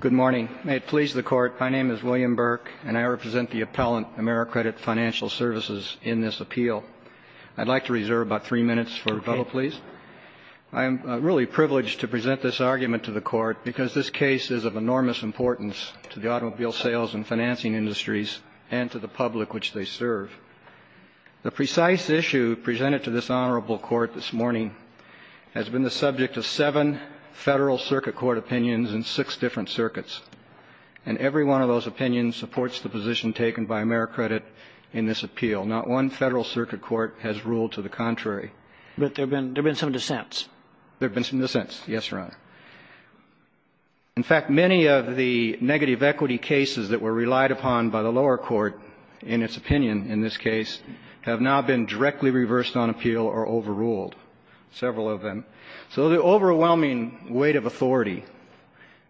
Good morning. May it please the Court, my name is William Burke, and I represent the appellant, AmeriCredit Financial Services, in this appeal. I'd like to reserve about three minutes for rebuttal, please. I am really privileged to present this argument to the Court because this case is of enormous importance to the automobile sales and financing industries and to the public which they serve. The precise issue presented to this honorable Court this morning has been the subject of seven Federal Circuit Court opinions in six different circuits. And every one of those opinions supports the position taken by AmeriCredit in this appeal. Not one Federal Circuit Court has ruled to the contrary. But there have been some dissents. There have been some dissents, yes, Your Honor. In fact, many of the negative equity cases that were relied upon by the lower court in its opinion in this case have now been directly reversed on appeal or overruled, several of them. So the overwhelming weight of authority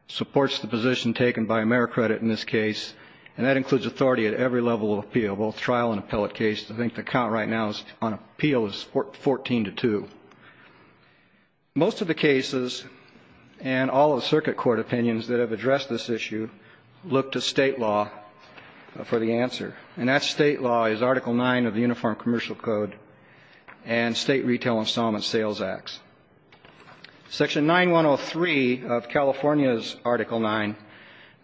supports the position taken by AmeriCredit in this case, and that includes authority at every level of appeal, both trial and appellate cases. I think the count right now on appeal is 14 to 2. Most of the cases and all of the circuit court opinions that have addressed this issue look to State law for the answer. And that State law is Article 9 of the Uniform Commercial Code and State Retail Installment Sales Acts. Section 9103 of California's Article 9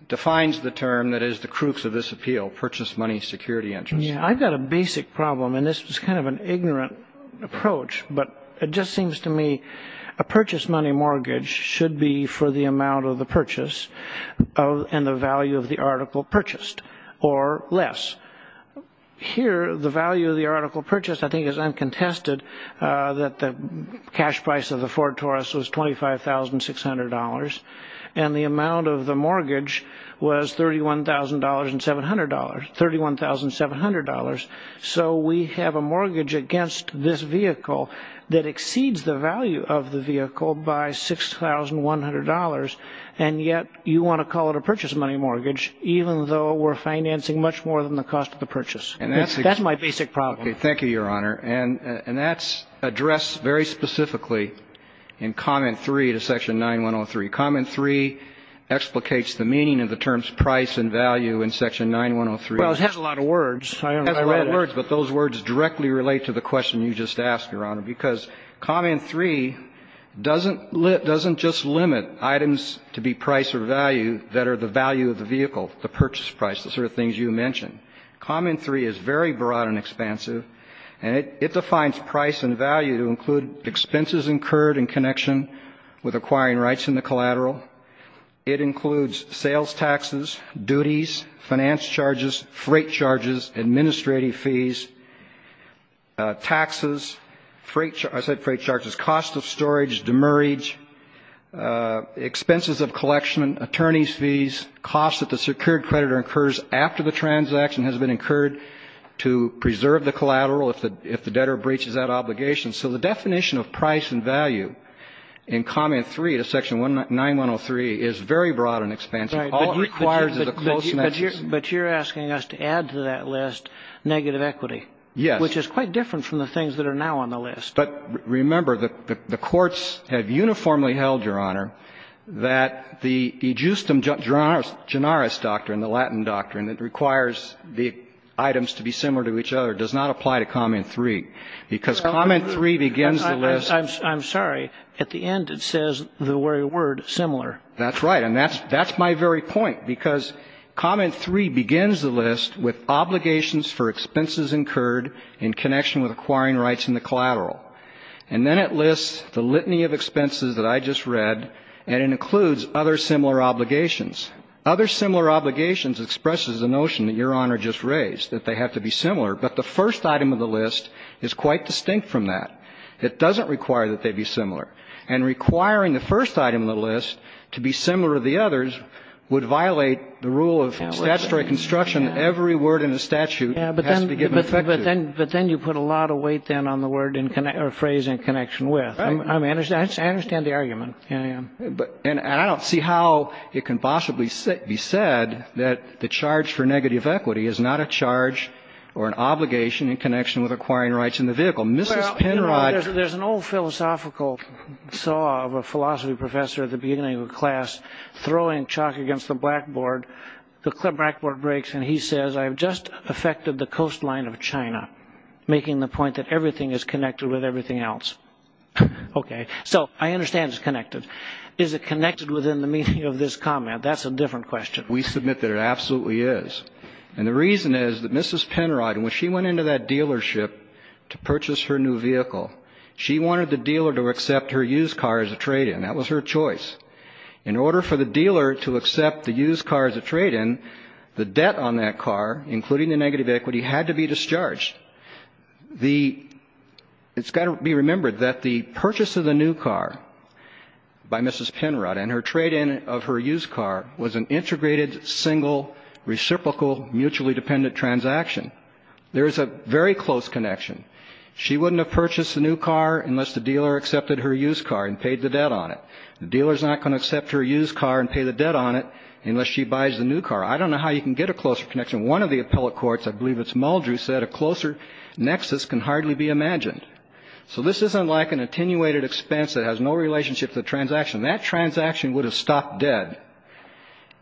defines the term that is the crux of this appeal, purchase money security interest. I've got a basic problem, and this is kind of an ignorant approach. But it just seems to me a purchase money mortgage should be for the amount of the purchase and the value of the article purchased or less. Here, the value of the article purchased, I think, is uncontested, that the cash price of the Ford Taurus was $25,600, and the amount of the mortgage was $31,700. So we have a mortgage against this vehicle that exceeds the value of the vehicle by $6,100, and yet you want to call it a purchase money mortgage, even though we're financing much more than the cost of the purchase. That's my basic problem. Thank you, Your Honor. And that's addressed very specifically in Comment 3 of Section 9103. And Comment 3 explicates the meaning of the terms price and value in Section 9103. Well, it has a lot of words. It has a lot of words, but those words directly relate to the question you just asked, Your Honor. Because Comment 3 doesn't just limit items to be price or value that are the value of the vehicle, the purchase price, the sort of things you mentioned. Comment 3 is very broad and expansive, and it defines price and value to include expenses incurred in connection with acquiring rights in the collateral. It includes sales taxes, duties, finance charges, freight charges, administrative fees, taxes, freight charges, cost of storage, demurrage, expenses of collection, attorneys' fees, costs that the secured creditor incurs after the transaction has been incurred to preserve the collateral if the debtor breaches that obligation. So the definition of price and value in Comment 3 of Section 9103 is very broad and expansive. All it requires is a close message. But you're asking us to add to that list negative equity. Yes. Which is quite different from the things that are now on the list. But remember, the courts have uniformly held, Your Honor, that the ejusdem generis doctrine, the Latin doctrine, that requires the items to be similar to each other, does not apply to Comment 3, because Comment 3 begins the list. I'm sorry. At the end, it says the word similar. That's right. And that's my very point, because Comment 3 begins the list with obligations for expenses incurred in connection with acquiring rights in the collateral. And then it lists the litany of expenses that I just read, and it includes other similar obligations. Other similar obligations expresses the notion that Your Honor just raised, that they have to be similar. But the first item of the list is quite distinct from that. It doesn't require that they be similar. And requiring the first item of the list to be similar to the others would violate the rule of statutory construction. Every word in the statute has to be given effect to. But then you put a lot of weight, then, on the phrase in connection with. I understand the argument. And I don't see how it can possibly be said that the charge for negative equity is not a charge or an obligation in connection with acquiring rights in the vehicle. Mrs. Penrod. There's an old philosophical saw of a philosophy professor at the beginning of a class throwing chalk against the blackboard. The blackboard breaks, and he says, I've just affected the coastline of China, making the point that everything is connected with everything else. Okay. So I understand it's connected. Is it connected within the meaning of this comment? That's a different question. We submit that it absolutely is. And the reason is that Mrs. Penrod, when she went into that dealership to purchase her new vehicle, she wanted the dealer to accept her used car as a trade-in. That was her choice. In order for the dealer to accept the used car as a trade-in, the debt on that car, including the negative equity, had to be discharged. It's got to be remembered that the purchase of the new car by Mrs. Penrod and her trade-in of her used car was an integrated, single, reciprocal, mutually dependent transaction. There is a very close connection. She wouldn't have purchased the new car unless the dealer accepted her used car and paid the debt on it. The dealer is not going to accept her used car and pay the debt on it unless she buys the new car. I don't know how you can get a closer connection. One of the appellate courts, I believe it's Muldrew, said a closer nexus can hardly be imagined. So this isn't like an attenuated expense that has no relationship to the transaction. That transaction would have stopped dead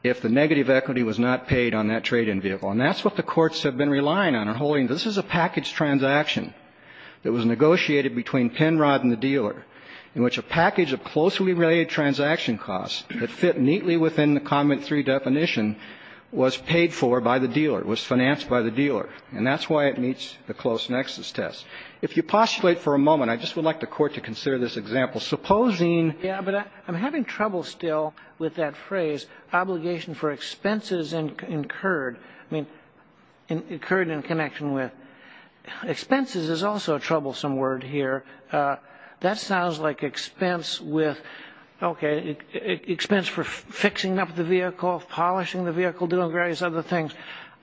if the negative equity was not paid on that trade-in vehicle. And that's what the courts have been relying on and holding. This is a package transaction that was negotiated between Penrod and the dealer in which a package of closely related transaction costs that fit neatly within the comment three definition was paid for by the dealer, was financed by the dealer. And that's why it meets the close nexus test. If you postulate for a moment, I just would like the Court to consider this example. Supposing ---- with that phrase, obligation for expenses incurred, I mean, incurred in connection with. Expenses is also a troublesome word here. That sounds like expense with, okay, expense for fixing up the vehicle, polishing the vehicle, doing various other things.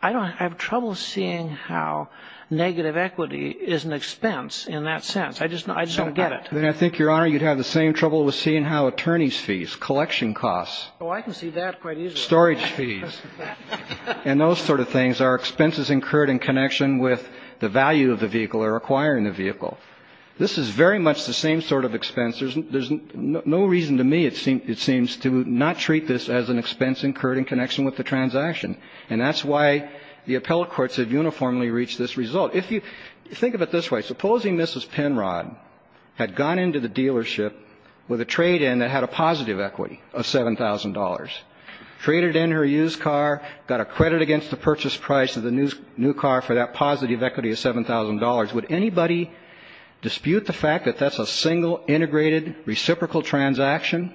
I have trouble seeing how negative equity is an expense in that sense. I just don't get it. Then I think, Your Honor, you'd have the same trouble with seeing how attorneys' fees, collection costs. Oh, I can see that quite easily. Storage fees. And those sort of things are expenses incurred in connection with the value of the vehicle or acquiring the vehicle. This is very much the same sort of expense. There's no reason to me it seems to not treat this as an expense incurred in connection with the transaction. And that's why the appellate courts have uniformly reached this result. Now, if you think of it this way, supposing Mrs. Penrod had gone into the dealership with a trade-in that had a positive equity of $7,000, traded in her used car, got a credit against the purchase price of the new car for that positive equity of $7,000, would anybody dispute the fact that that's a single integrated reciprocal transaction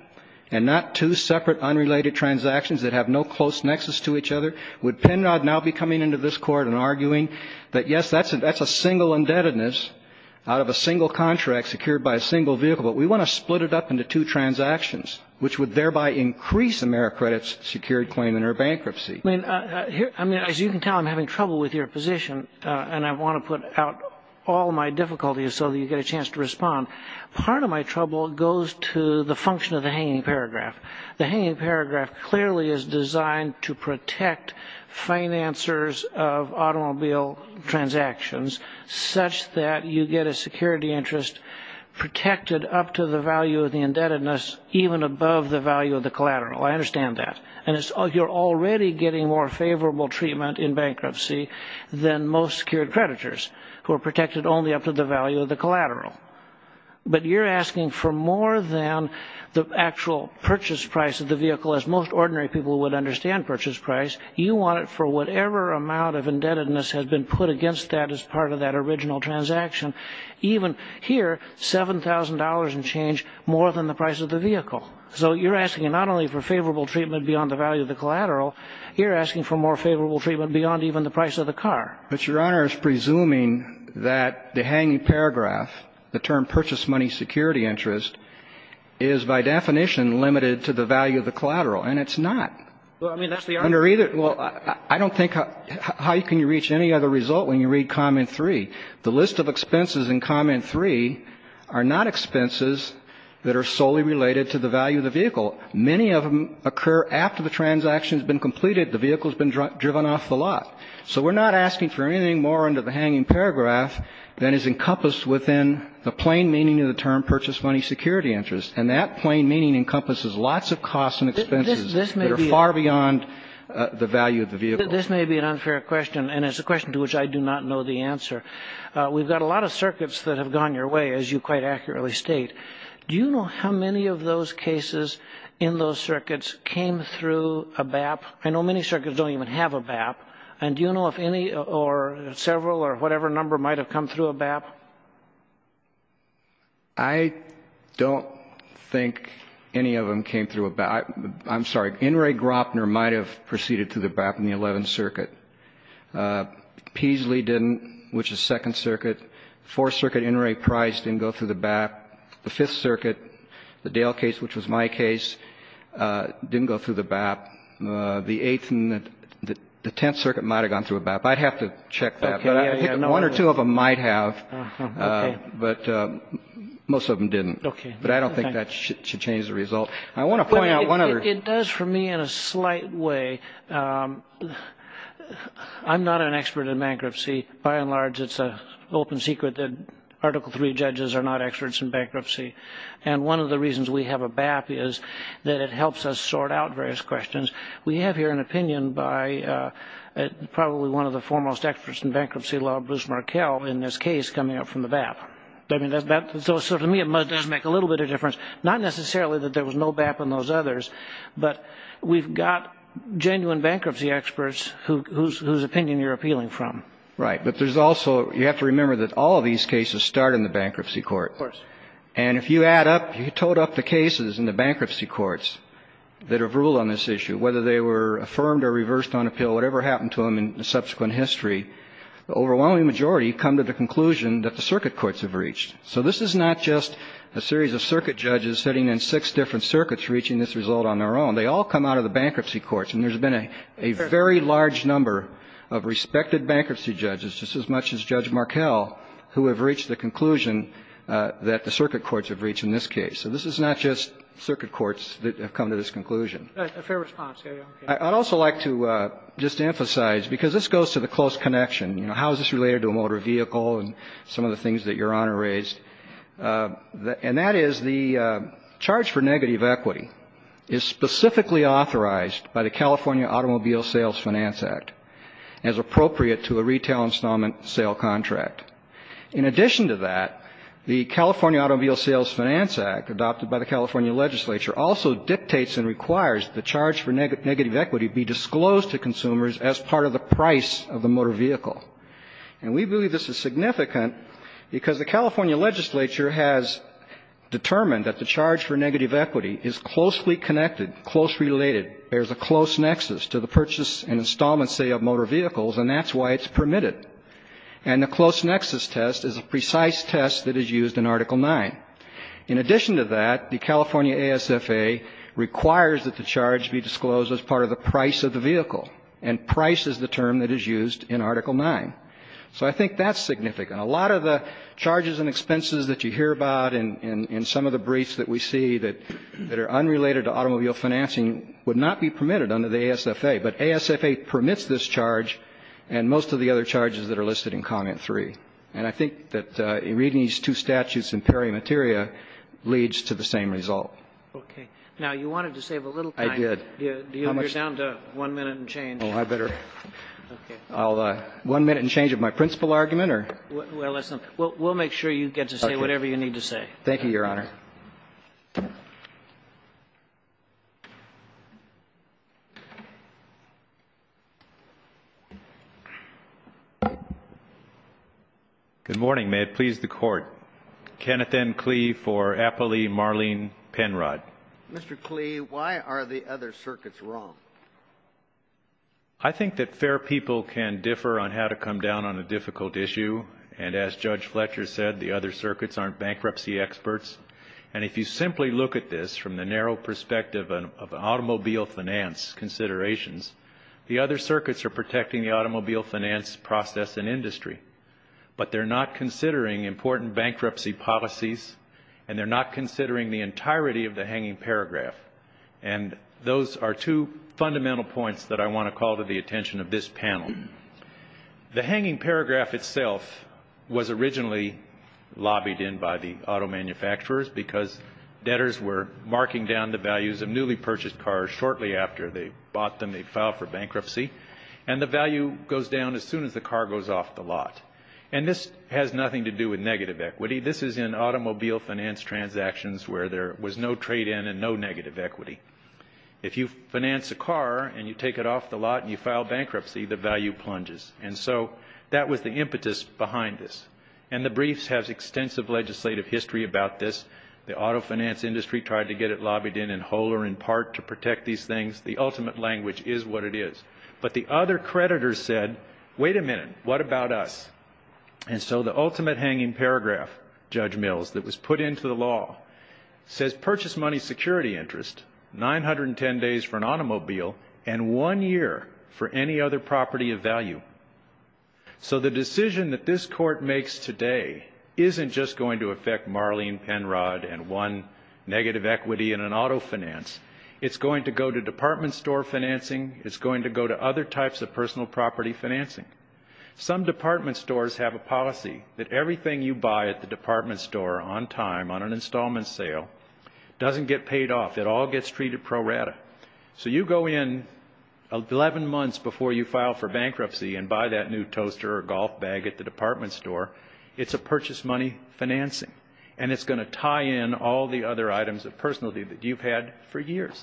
and not two separate unrelated transactions that have no close nexus to each other? Would Penrod now be coming into this Court and arguing that, yes, that's a single indebtedness out of a single contract secured by a single vehicle, but we want to split it up into two transactions, which would thereby increase AmeriCredit's secured claim in her bankruptcy? I mean, as you can tell, I'm having trouble with your position, and I want to put out all my difficulties so that you get a chance to respond. Part of my trouble goes to the function of the hanging paragraph. The hanging paragraph clearly is designed to protect financiers of automobile transactions such that you get a security interest protected up to the value of the indebtedness, even above the value of the collateral. I understand that. And you're already getting more favorable treatment in bankruptcy than most secured creditors who are protected only up to the value of the collateral. But you're asking for more than the actual purchase price of the vehicle. As most ordinary people would understand purchase price, you want it for whatever amount of indebtedness has been put against that as part of that original transaction. Even here, $7,000 and change more than the price of the vehicle. So you're asking not only for favorable treatment beyond the value of the collateral, you're asking for more favorable treatment beyond even the price of the car. But, Your Honor, it's presuming that the hanging paragraph, the term purchase money security interest, is by definition limited to the value of the collateral. And it's not. Well, I mean, that's the argument. Well, I don't think how can you reach any other result when you read comment 3. The list of expenses in comment 3 are not expenses that are solely related to the value of the vehicle. Many of them occur after the transaction has been completed, the vehicle has been driven off the lot. So we're not asking for anything more under the hanging paragraph than is encompassed within the plain meaning of the term purchase money security interest. And that plain meaning encompasses lots of costs and expenses that are far beyond the value of the vehicle. This may be an unfair question, and it's a question to which I do not know the answer. We've got a lot of circuits that have gone your way, as you quite accurately state. Do you know how many of those cases in those circuits came through a BAP? I know many circuits don't even have a BAP. And do you know if any or several or whatever number might have come through a BAP? I don't think any of them came through a BAP. I'm sorry. In re Gropner might have proceeded through the BAP in the 11th Circuit. Peasley didn't, which is 2nd Circuit. 4th Circuit, In re Price didn't go through the BAP. The 5th Circuit, the Dale case, which was my case, didn't go through the BAP. The 8th and the 10th Circuit might have gone through a BAP. I'd have to check that. One or two of them might have, but most of them didn't. But I don't think that should change the result. I want to point out one other. It does for me in a slight way. I'm not an expert in bankruptcy. By and large, it's an open secret that Article III judges are not experts in bankruptcy. And one of the reasons we have a BAP is that it helps us sort out various questions. We have here an opinion by probably one of the foremost experts in bankruptcy law, Bruce Markell, in this case, coming up from the BAP. So to me it does make a little bit of difference. Not necessarily that there was no BAP in those others, but we've got genuine bankruptcy experts whose opinion you're appealing from. Right. But there's also, you have to remember that all of these cases start in the bankruptcy court. Of course. And if you add up, you toad up the cases in the bankruptcy courts that have ruled on this issue, whether they were affirmed or reversed on appeal, whatever happened to them in subsequent history, the overwhelming majority come to the conclusion that the circuit courts have reached. So this is not just a series of circuit judges sitting in six different circuits reaching this result on their own. They all come out of the bankruptcy courts, and there's been a very large number of respected bankruptcy judges, just as much as Judge Markell, who have reached the conclusion that the circuit courts have reached in this case. So this is not just circuit courts that have come to this conclusion. Fair response. I'd also like to just emphasize, because this goes to the close connection, you know, how is this related to a motor vehicle and some of the things that Your Honor raised, and that is the charge for negative equity is specifically authorized by the California Automobile Sales Finance Act as appropriate to a retail installment sale contract. In addition to that, the California Automobile Sales Finance Act, adopted by the California legislature, also dictates and requires the charge for negative equity be disclosed to consumers as part of the price of the motor vehicle. And we believe this is significant because the California legislature has determined that the charge for negative equity is closely connected, there's a close nexus to the purchase and installment sale of motor vehicles, and that's why it's permitted. And the close nexus test is a precise test that is used in Article 9. In addition to that, the California ASFA requires that the charge be disclosed as part of the price of the vehicle, and price is the term that is used in Article 9. So I think that's significant. And a lot of the charges and expenses that you hear about in some of the briefs that we see that are unrelated to automobile financing would not be permitted under the ASFA. But ASFA permits this charge and most of the other charges that are listed in Comment 3. And I think that reading these two statutes in peri materia leads to the same result. Okay. Now, you wanted to save a little time. I did. You're down to one minute and change. Oh, I better. Okay. One minute and change of my principal argument, or? Well, we'll make sure you get to say whatever you need to say. Thank you, Your Honor. Good morning. May it please the Court. Kenneth N. Klee for Applee Marlene Penrod. Mr. Klee, why are the other circuits wrong? I think that fair people can differ on how to come down on a difficult issue. And as Judge Fletcher said, the other circuits aren't bankruptcy experts. And if you simply look at this from the narrow perspective of automobile finance considerations, the other circuits are protecting the automobile finance process and industry, but they're not considering important bankruptcy policies and they're not considering the entirety of the hanging paragraph. And those are two fundamental points that I want to call to the attention of this panel. The hanging paragraph itself was originally lobbied in by the auto manufacturers because debtors were marking down the values of newly purchased cars shortly after they bought them. They filed for bankruptcy. And the value goes down as soon as the car goes off the lot. And this has nothing to do with negative equity. This is in automobile finance transactions where there was no trade-in and no negative equity. If you finance a car and you take it off the lot and you file bankruptcy, the value plunges. And so that was the impetus behind this. And the briefs have extensive legislative history about this. The auto finance industry tried to get it lobbied in, in whole or in part, to protect these things. The ultimate language is what it is. But the other creditors said, wait a minute, what about us? And so the ultimate hanging paragraph, Judge Mills, that was put into the law, says purchase money security interest, 910 days for an automobile, and one year for any other property of value. So the decision that this Court makes today isn't just going to affect Marlene Penrod and one negative equity in an auto finance. It's going to go to department store financing. It's going to go to other types of personal property financing. Some department stores have a policy that everything you buy at the department store on time, on an installment sale, doesn't get paid off. It all gets treated pro rata. So you go in 11 months before you file for bankruptcy and buy that new toaster or golf bag at the department store, it's a purchase money financing. And it's going to tie in all the other items of personality that you've had for years.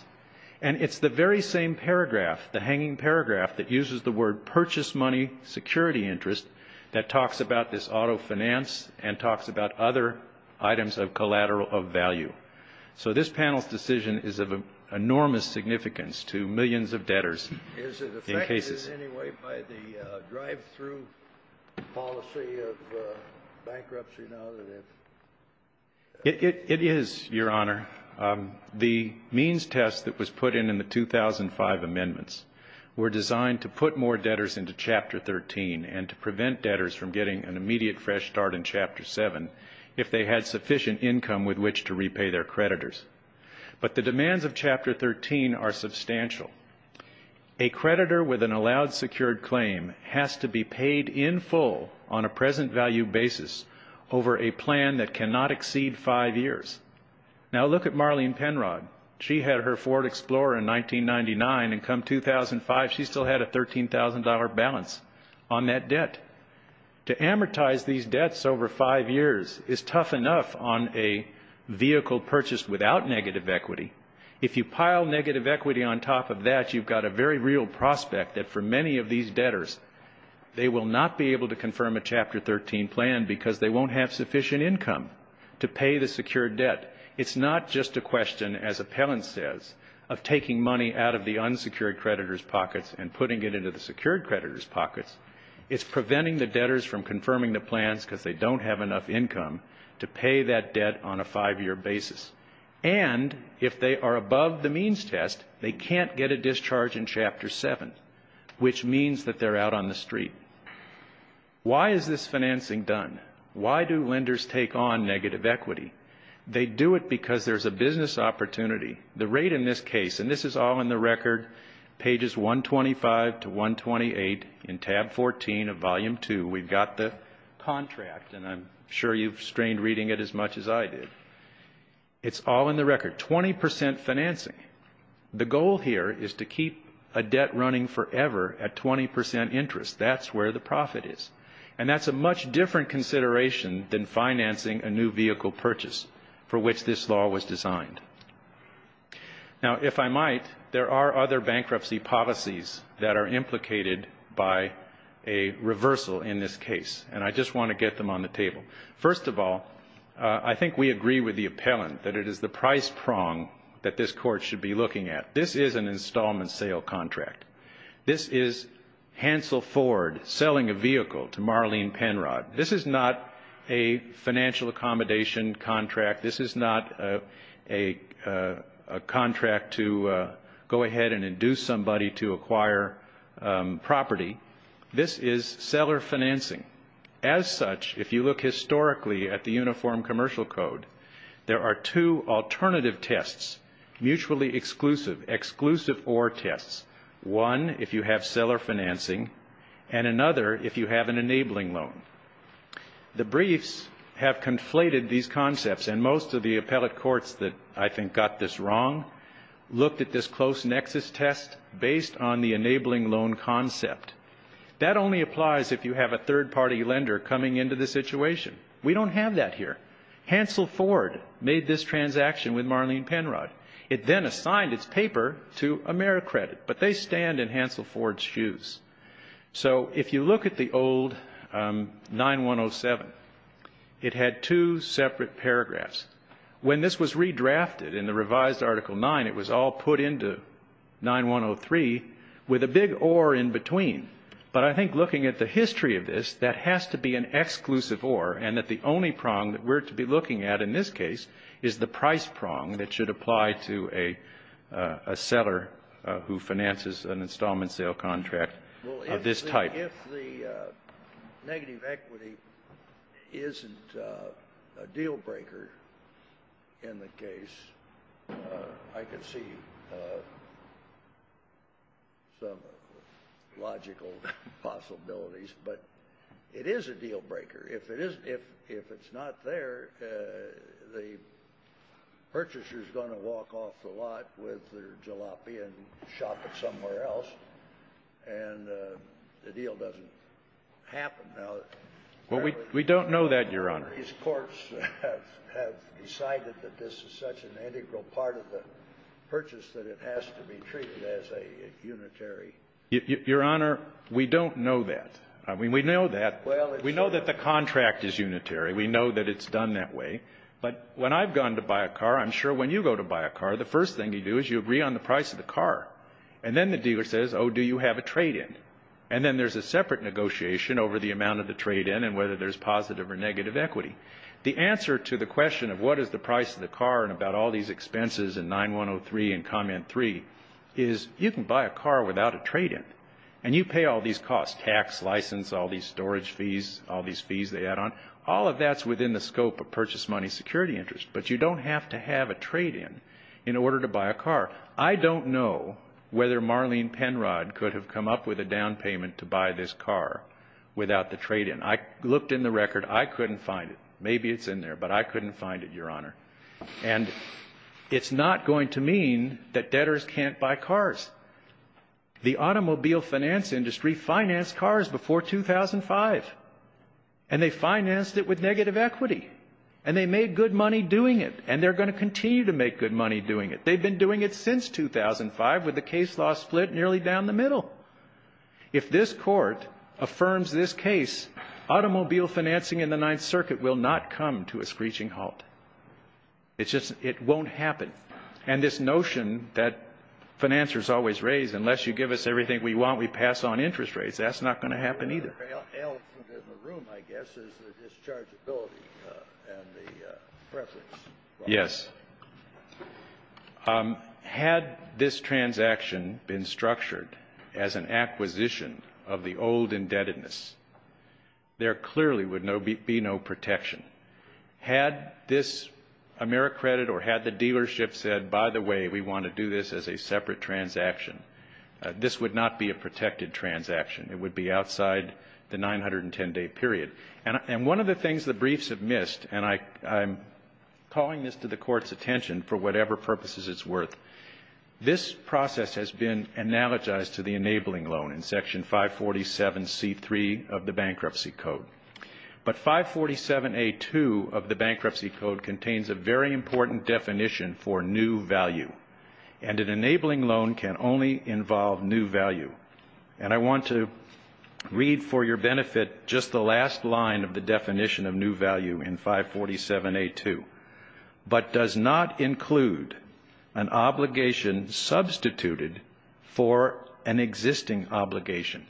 And it's the very same paragraph, the hanging paragraph, that uses the word purchase money security interest that talks about this auto finance and talks about other items of collateral of value. So this panel's decision is of enormous significance to millions of debtors. Is it affected in any way by the drive-through policy of bankruptcy now? It is, Your Honor. The means test that was put in in the 2005 amendments were designed to put more debtors into Chapter 13 and to prevent debtors from getting an immediate fresh start in Chapter 7 if they had sufficient income with which to repay their creditors. But the demands of Chapter 13 are substantial. A creditor with an allowed secured claim has to be paid in full on a present value basis over a plan that cannot exceed five years. Now look at Marlene Penrod. She had her Ford Explorer in 1999, and come 2005 she still had a $13,000 balance on that debt. To amortize these debts over five years is tough enough on a vehicle purchased without negative equity. If you pile negative equity on top of that, you've got a very real prospect that for many of these debtors, they will not be able to confirm a Chapter 13 plan because they won't have sufficient income to pay the secured debt. It's not just a question, as appellant says, of taking money out of the unsecured creditor's pockets and putting it into the secured creditor's pockets. It's preventing the debtors from confirming the plans because they don't have enough income to pay that debt on a five-year basis. And if they are above the means test, they can't get a discharge in Chapter 7, which means that they're out on the street. Why is this financing done? Why do lenders take on negative equity? They do it because there's a business opportunity. The rate in this case, and this is all in the record, pages 125 to 128 in tab 14 of volume 2. We've got the contract, and I'm sure you've strained reading it as much as I did. It's all in the record, 20% financing. The goal here is to keep a debt running forever at 20% interest. That's where the profit is. And that's a much different consideration than financing a new vehicle purchase for which this law was designed. Now, if I might, there are other bankruptcy policies that are implicated by a reversal in this case, and I just want to get them on the table. First of all, I think we agree with the appellant that it is the price prong that this Court should be looking at. This is an installment sale contract. This is Hansel Ford selling a vehicle to Marlene Penrod. This is not a financial accommodation contract. This is not a contract to go ahead and induce somebody to acquire property. This is seller financing. As such, if you look historically at the Uniform Commercial Code, there are two alternative tests, mutually exclusive, exclusive or tests, one if you have seller financing and another if you have an enabling loan. The briefs have conflated these concepts, and most of the appellate courts that I think got this wrong looked at this close nexus test based on the enabling loan concept. That only applies if you have a third-party lender coming into the situation. We don't have that here. Hansel Ford made this transaction with Marlene Penrod. It then assigned its paper to AmeriCredit, but they stand in Hansel Ford's shoes. So if you look at the old 9107, it had two separate paragraphs. When this was redrafted in the revised Article 9, it was all put into 9103 with a big or in between. But I think looking at the history of this, that has to be an exclusive or, and that the only prong that we're to be looking at in this case is the price prong that should apply to a seller who finances an installment sale contract of this type. If the negative equity isn't a deal-breaker in the case, I can see some logical possibilities. But it is a deal-breaker. If it's not there, the purchaser is going to walk off the lot with their jalopy and shop it somewhere else, and the deal doesn't happen. Well, we don't know that, Your Honor. These courts have decided that this is such an integral part of the purchase that it has to be treated as a unitary. Your Honor, we don't know that. I mean, we know that. We know that the contract is unitary. We know that it's done that way. But when I've gone to buy a car, I'm sure when you go to buy a car, the first thing you do is you agree on the price of the car. And then the dealer says, oh, do you have a trade-in? And then there's a separate negotiation over the amount of the trade-in and whether there's positive or negative equity. The answer to the question of what is the price of the car and about all these expenses in 9103 and Comment 3 is you can buy a car without a trade-in. And you pay all these costs, tax, license, all these storage fees, all these fees they add on. All of that's within the scope of purchase money security interest. But you don't have to have a trade-in in order to buy a car. I don't know whether Marlene Penrod could have come up with a down payment to buy this car without the trade-in. I looked in the record. I couldn't find it. Maybe it's in there, but I couldn't find it, Your Honor. And it's not going to mean that debtors can't buy cars. The automobile finance industry financed cars before 2005. And they financed it with negative equity. And they made good money doing it. And they're going to continue to make good money doing it. They've been doing it since 2005 with the case law split nearly down the middle. If this Court affirms this case, automobile financing in the Ninth Circuit will not come to a screeching halt. It won't happen. And this notion that financiers always raise, unless you give us everything we want, we pass on interest rates, that's not going to happen either. The L in the room, I guess, is the dischargeability and the preference. Yes. Had this transaction been structured as an acquisition of the old indebtedness, there clearly would be no protection. Had this AmeriCredit or had the dealership said, by the way, we want to do this as a separate transaction, this would not be a protected transaction. It would be outside the 910-day period. And one of the things the briefs have missed, and I'm calling this to the Court's attention for whatever purposes it's worth, this process has been analogized to the enabling loan in Section 547C3 of the Bankruptcy Code. But 547A2 of the Bankruptcy Code contains a very important definition for new value. And an enabling loan can only involve new value. And I want to read for your benefit just the last line of the definition of new value in 547A2. But does not include an obligation substituted for an existing obligation.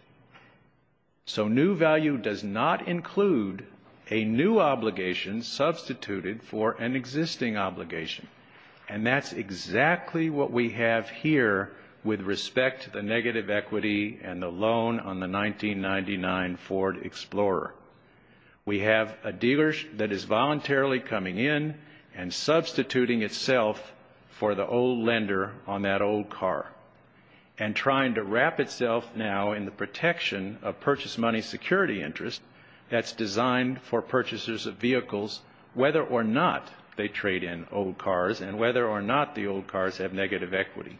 So new value does not include a new obligation substituted for an existing obligation. And that's exactly what we have here with respect to the negative equity and the loan on the 1999 Ford Explorer. We have a dealer that is voluntarily coming in and substituting itself for the old lender on that old car. And trying to wrap itself now in the protection of purchase money security interest that's designed for purchasers of vehicles whether or not they trade in old cars and whether or not the old cars have negative equity.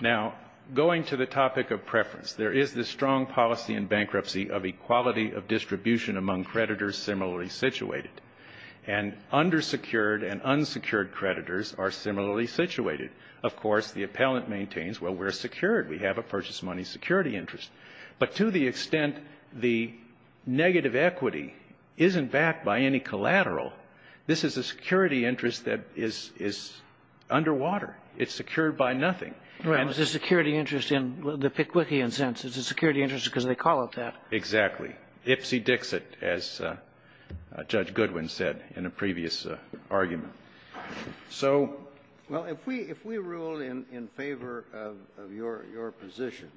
Now, going to the topic of preference, there is this strong policy in bankruptcy of equality of distribution among creditors similarly situated. And undersecured and unsecured creditors are similarly situated. Of course, the appellant maintains, well, we're secured. We have a purchase money security interest. But to the extent the negative equity isn't backed by any collateral, this is a security interest that is underwater. It's secured by nothing. Right. It's a security interest in the Pickwickian sense. It's a security interest because they call it that. Exactly. Ipsy-Dixit, as Judge Goodwin said in a previous argument. Well, if we rule in favor of your position,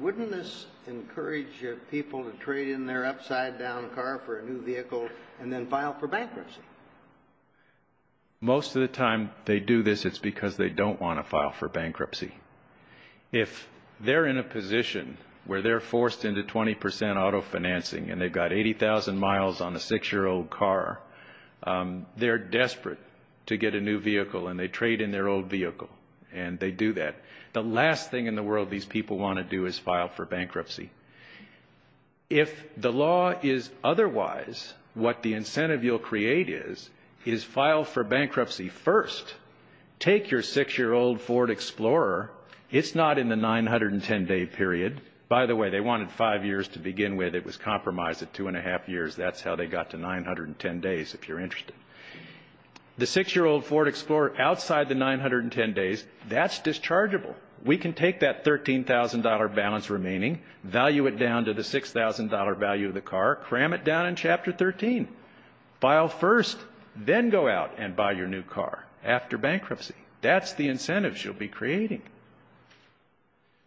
wouldn't this encourage people to trade in their upside-down car for a new vehicle and then file for bankruptcy? Most of the time they do this, it's because they don't want to file for bankruptcy. If they're in a position where they're forced into 20% auto financing and they've got 80,000 miles on a six-year-old car, they're desperate to get a new vehicle and they trade in their old vehicle and they do that. The last thing in the world these people want to do is file for bankruptcy. If the law is otherwise what the incentive you'll create is, is file for bankruptcy first. Take your six-year-old Ford Explorer. It's not in the 910-day period. By the way, they wanted five years to begin with. It was compromised at two and a half years. That's how they got to 910 days, if you're interested. The six-year-old Ford Explorer outside the 910 days, that's dischargeable. We can take that $13,000 balance remaining, value it down to the $6,000 value of the car, cram it down in Chapter 13, file first, then go out and buy your new car after bankruptcy. That's the incentives you'll be creating.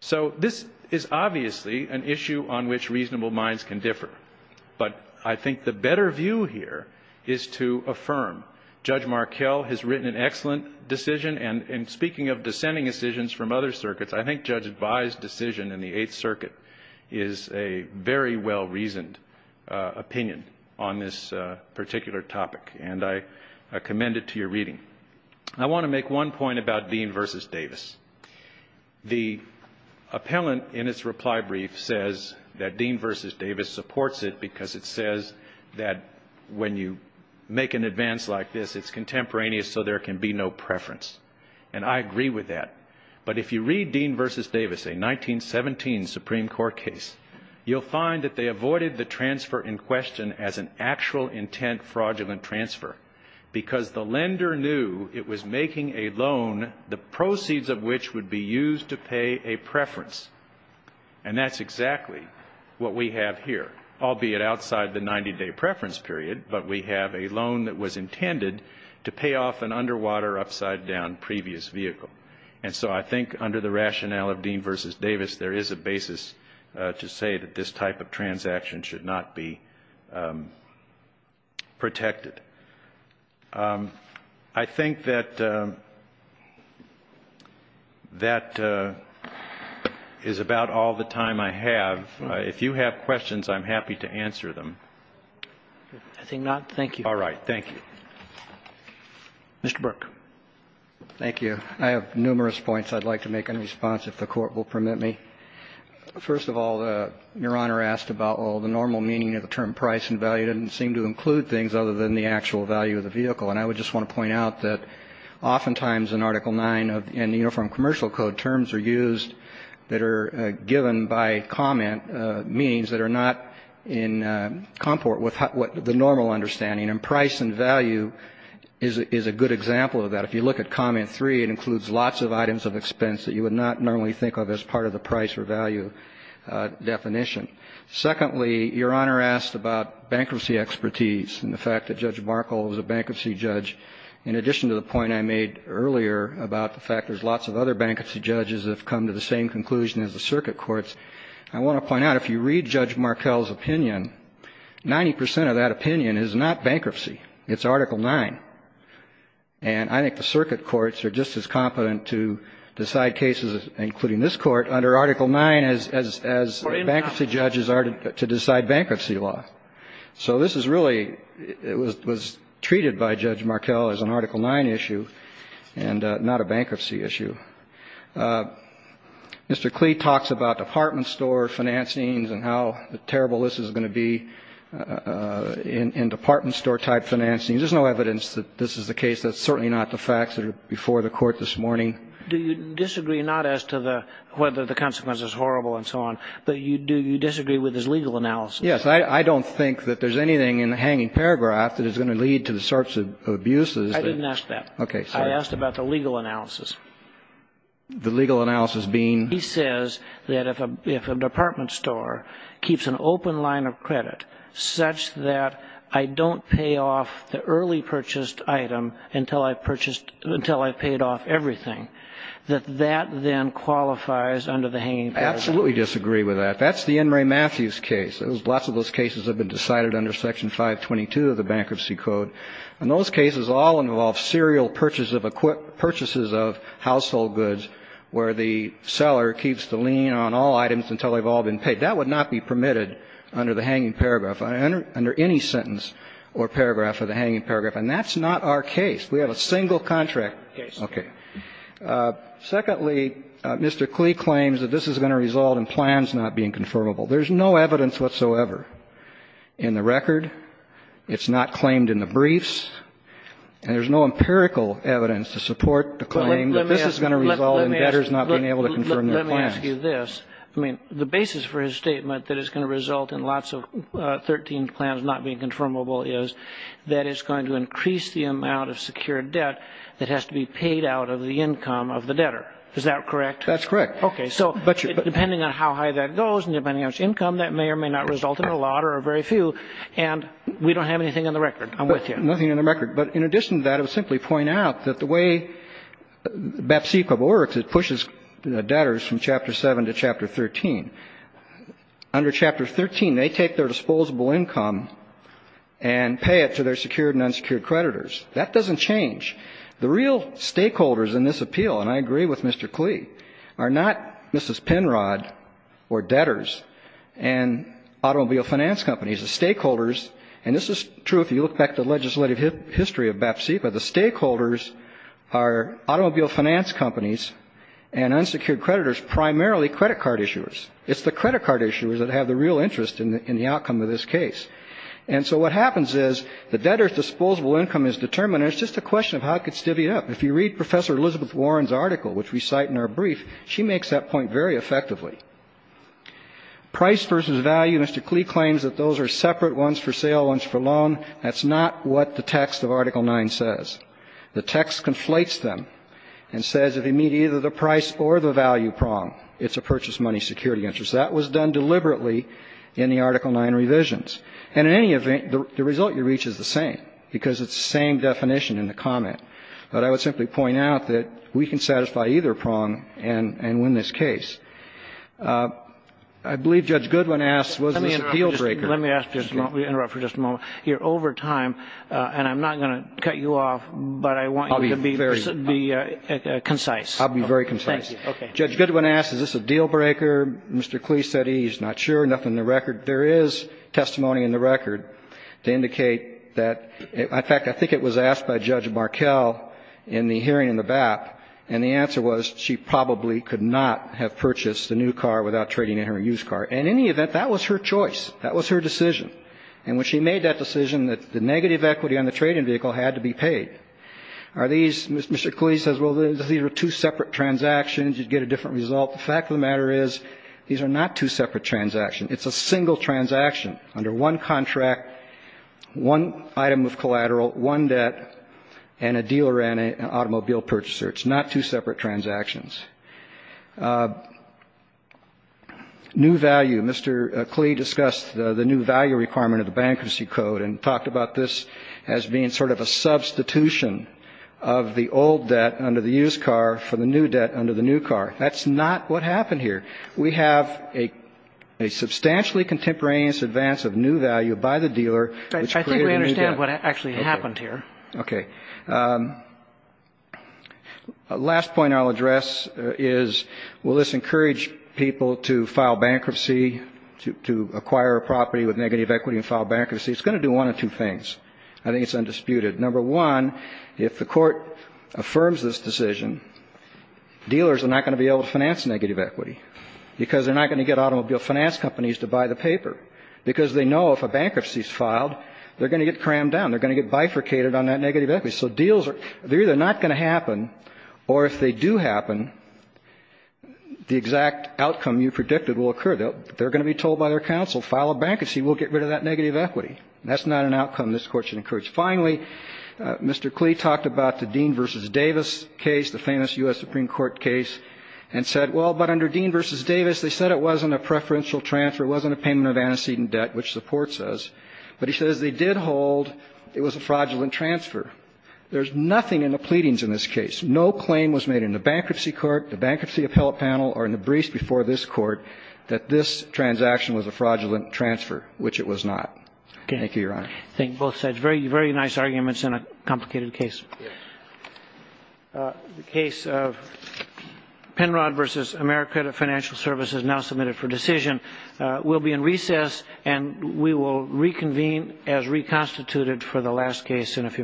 So this is obviously an issue on which reasonable minds can differ, but I think the better view here is to affirm. Judge Markell has written an excellent decision, and speaking of dissenting decisions from other circuits, I think Judge Advai's decision in the Eighth Circuit is a very well-reasoned opinion on this particular topic, and I commend it to your reading. I want to make one point about Dean v. Davis. The appellant in its reply brief says that Dean v. Davis supports it because it says that when you make an advance like this, it's contemporaneous, so there can be no preference. And I agree with that. But if you read Dean v. Davis, a 1917 Supreme Court case, you'll find that they avoided the transfer in question as an actual intent fraudulent transfer because the lender knew it was making a loan, the proceeds of which would be used to pay a preference. And that's exactly what we have here, albeit outside the 90-day preference period, but we have a loan that was intended to pay off an underwater upside-down previous vehicle. And so I think under the rationale of Dean v. Davis, there is a basis to say that this type of transaction should not be protected. I think that that is about all the time I have. If you have questions, I'm happy to answer them. I think not. Thank you. All right. Thank you. Mr. Burke. Thank you. I have numerous points I'd like to make in response, if the Court will permit me. First of all, Your Honor asked about, well, the normal meaning of the term price and value doesn't seem to include things other than the actual value of the vehicle. And I would just want to point out that oftentimes in Article 9 and the Uniform Commercial Code, terms are used that are given by comment, meanings that are not in comport with the normal understanding. And price and value is a good example of that. And if you look at Comment 3, it includes lots of items of expense that you would not normally think of as part of the price or value definition. Secondly, Your Honor asked about bankruptcy expertise and the fact that Judge Markell was a bankruptcy judge. In addition to the point I made earlier about the fact there's lots of other bankruptcy judges that have come to the same conclusion as the circuit courts, I want to point out if you read Judge Markell's opinion, 90 percent of that opinion is not bankruptcy. It's Article 9. And I think the circuit courts are just as competent to decide cases, including this court, under Article 9 as bankruptcy judges are to decide bankruptcy law. So this is really was treated by Judge Markell as an Article 9 issue and not a bankruptcy issue. Mr. Klee talks about department store financing and how terrible this is going to be in department store type financing. Is there no evidence that this is the case? That's certainly not the facts that are before the court this morning. Do you disagree not as to whether the consequence is horrible and so on, but do you disagree with his legal analysis? Yes. I don't think that there's anything in the hanging paragraph that is going to lead to the sorts of abuses. I didn't ask that. Okay. I asked about the legal analysis. The legal analysis being? He says that if a department store keeps an open line of credit such that I don't pay off the early purchased item until I've purchased, until I've paid off everything, that that then qualifies under the hanging paragraph. I absolutely disagree with that. That's the N. Ray Matthews case. Lots of those cases have been decided under Section 522 of the Bankruptcy Code. And those cases all involve serial purchases of household goods where the seller keeps the lien on all items until they've all been paid. That would not be permitted under the hanging paragraph, under any sentence or paragraph of the hanging paragraph. And that's not our case. We have a single contract. Yes. Okay. Secondly, Mr. Klee claims that this is going to result in plans not being confirmable. There's no evidence whatsoever in the record. It's not claimed in the briefs. And there's no empirical evidence to support the claim that this is going to result in debtors not being able to confirm their plans. Well, let me ask you this. I mean, the basis for his statement that it's going to result in lots of 13 plans not being confirmable is that it's going to increase the amount of secured debt that has to be paid out of the income of the debtor. Is that correct? That's correct. Okay. So depending on how high that goes and depending on its income, that may or may not result in a lot or a very few. And we don't have anything on the record. I'm with you. Nothing on the record. But in addition to that, I would simply point out that the way BAPC code works, is it pushes debtors from Chapter 7 to Chapter 13. Under Chapter 13, they take their disposable income and pay it to their secured and unsecured creditors. That doesn't change. The real stakeholders in this appeal, and I agree with Mr. Klee, are not Mrs. Penrod or debtors and automobile finance companies. The stakeholders, and this is true if you look back at the legislative history of and unsecured creditors, primarily credit card issuers. It's the credit card issuers that have the real interest in the outcome of this case. And so what happens is the debtor's disposable income is determined, and it's just a question of how it gets divvied up. If you read Professor Elizabeth Warren's article, which we cite in our brief, she makes that point very effectively. Price versus value, Mr. Klee claims that those are separate ones for sale, ones for loan. That's not what the text of Article 9 says. The text conflates them and says if you meet either the price or the value prong, it's a purchase money security interest. That was done deliberately in the Article 9 revisions. And in any event, the result you reach is the same, because it's the same definition in the comment. But I would simply point out that we can satisfy either prong and win this case. I believe Judge Goodwin asked, was this an appeal breaker? Let me interrupt for just a moment here. Over time, and I'm not going to cut you off, but I want you to be concise. I'll be very concise. Judge Goodwin asked, is this a deal breaker? Mr. Klee said he's not sure. Nothing in the record. There is testimony in the record to indicate that. In fact, I think it was asked by Judge Markell in the hearing in the BAP, and the answer was she probably could not have purchased the new car without trading in her used And in any event, that was her choice. That was her decision. And when she made that decision, the negative equity on the trading vehicle had to be paid. Are these, Mr. Klee says, well, these are two separate transactions. You'd get a different result. The fact of the matter is these are not two separate transactions. It's a single transaction under one contract, one item of collateral, one debt, and a dealer and an automobile purchaser. It's not two separate transactions. New value. Mr. Klee discussed the new value requirement of the Bankruptcy Code and talked about this as being sort of a substitution of the old debt under the used car for the new debt under the new car. That's not what happened here. We have a substantially contemporaneous advance of new value by the dealer, which created a new debt. I think we understand what actually happened here. Okay. Last point I'll address is will this encourage people to file bankruptcy, to acquire a property with negative equity and file bankruptcy? It's going to do one of two things. I think it's undisputed. Number one, if the court affirms this decision, dealers are not going to be able to finance negative equity because they're not going to get automobile finance companies to buy the paper because they know if a bankruptcy is filed, they're going to get crammed down. They're going to get bifurcated on that negative equity. So deals are either not going to happen, or if they do happen, the exact outcome you predicted will occur. They're going to be told by their counsel, file a bankruptcy. We'll get rid of that negative equity. That's not an outcome this Court should encourage. Finally, Mr. Klee talked about the Dean v. Davis case, the famous U.S. Supreme Court case, and said, well, but under Dean v. Davis, they said it wasn't a preferential transfer. It wasn't a payment of antecedent debt, which the Court says. But he says they did hold it was a fraudulent transfer. There's nothing in the pleadings in this case. No claim was made in the bankruptcy court, the bankruptcy appellate panel, or in the briefs before this Court that this transaction was a fraudulent transfer, which it was not. Thank you, Your Honor. Thank you, both sides. Very, very nice arguments in a complicated case. Yes. The case of Penrod v. AmeriCredit Financial Services, now submitted for decision, will be in recess, and we will reconvene as reconstituted for the last case in a few minutes.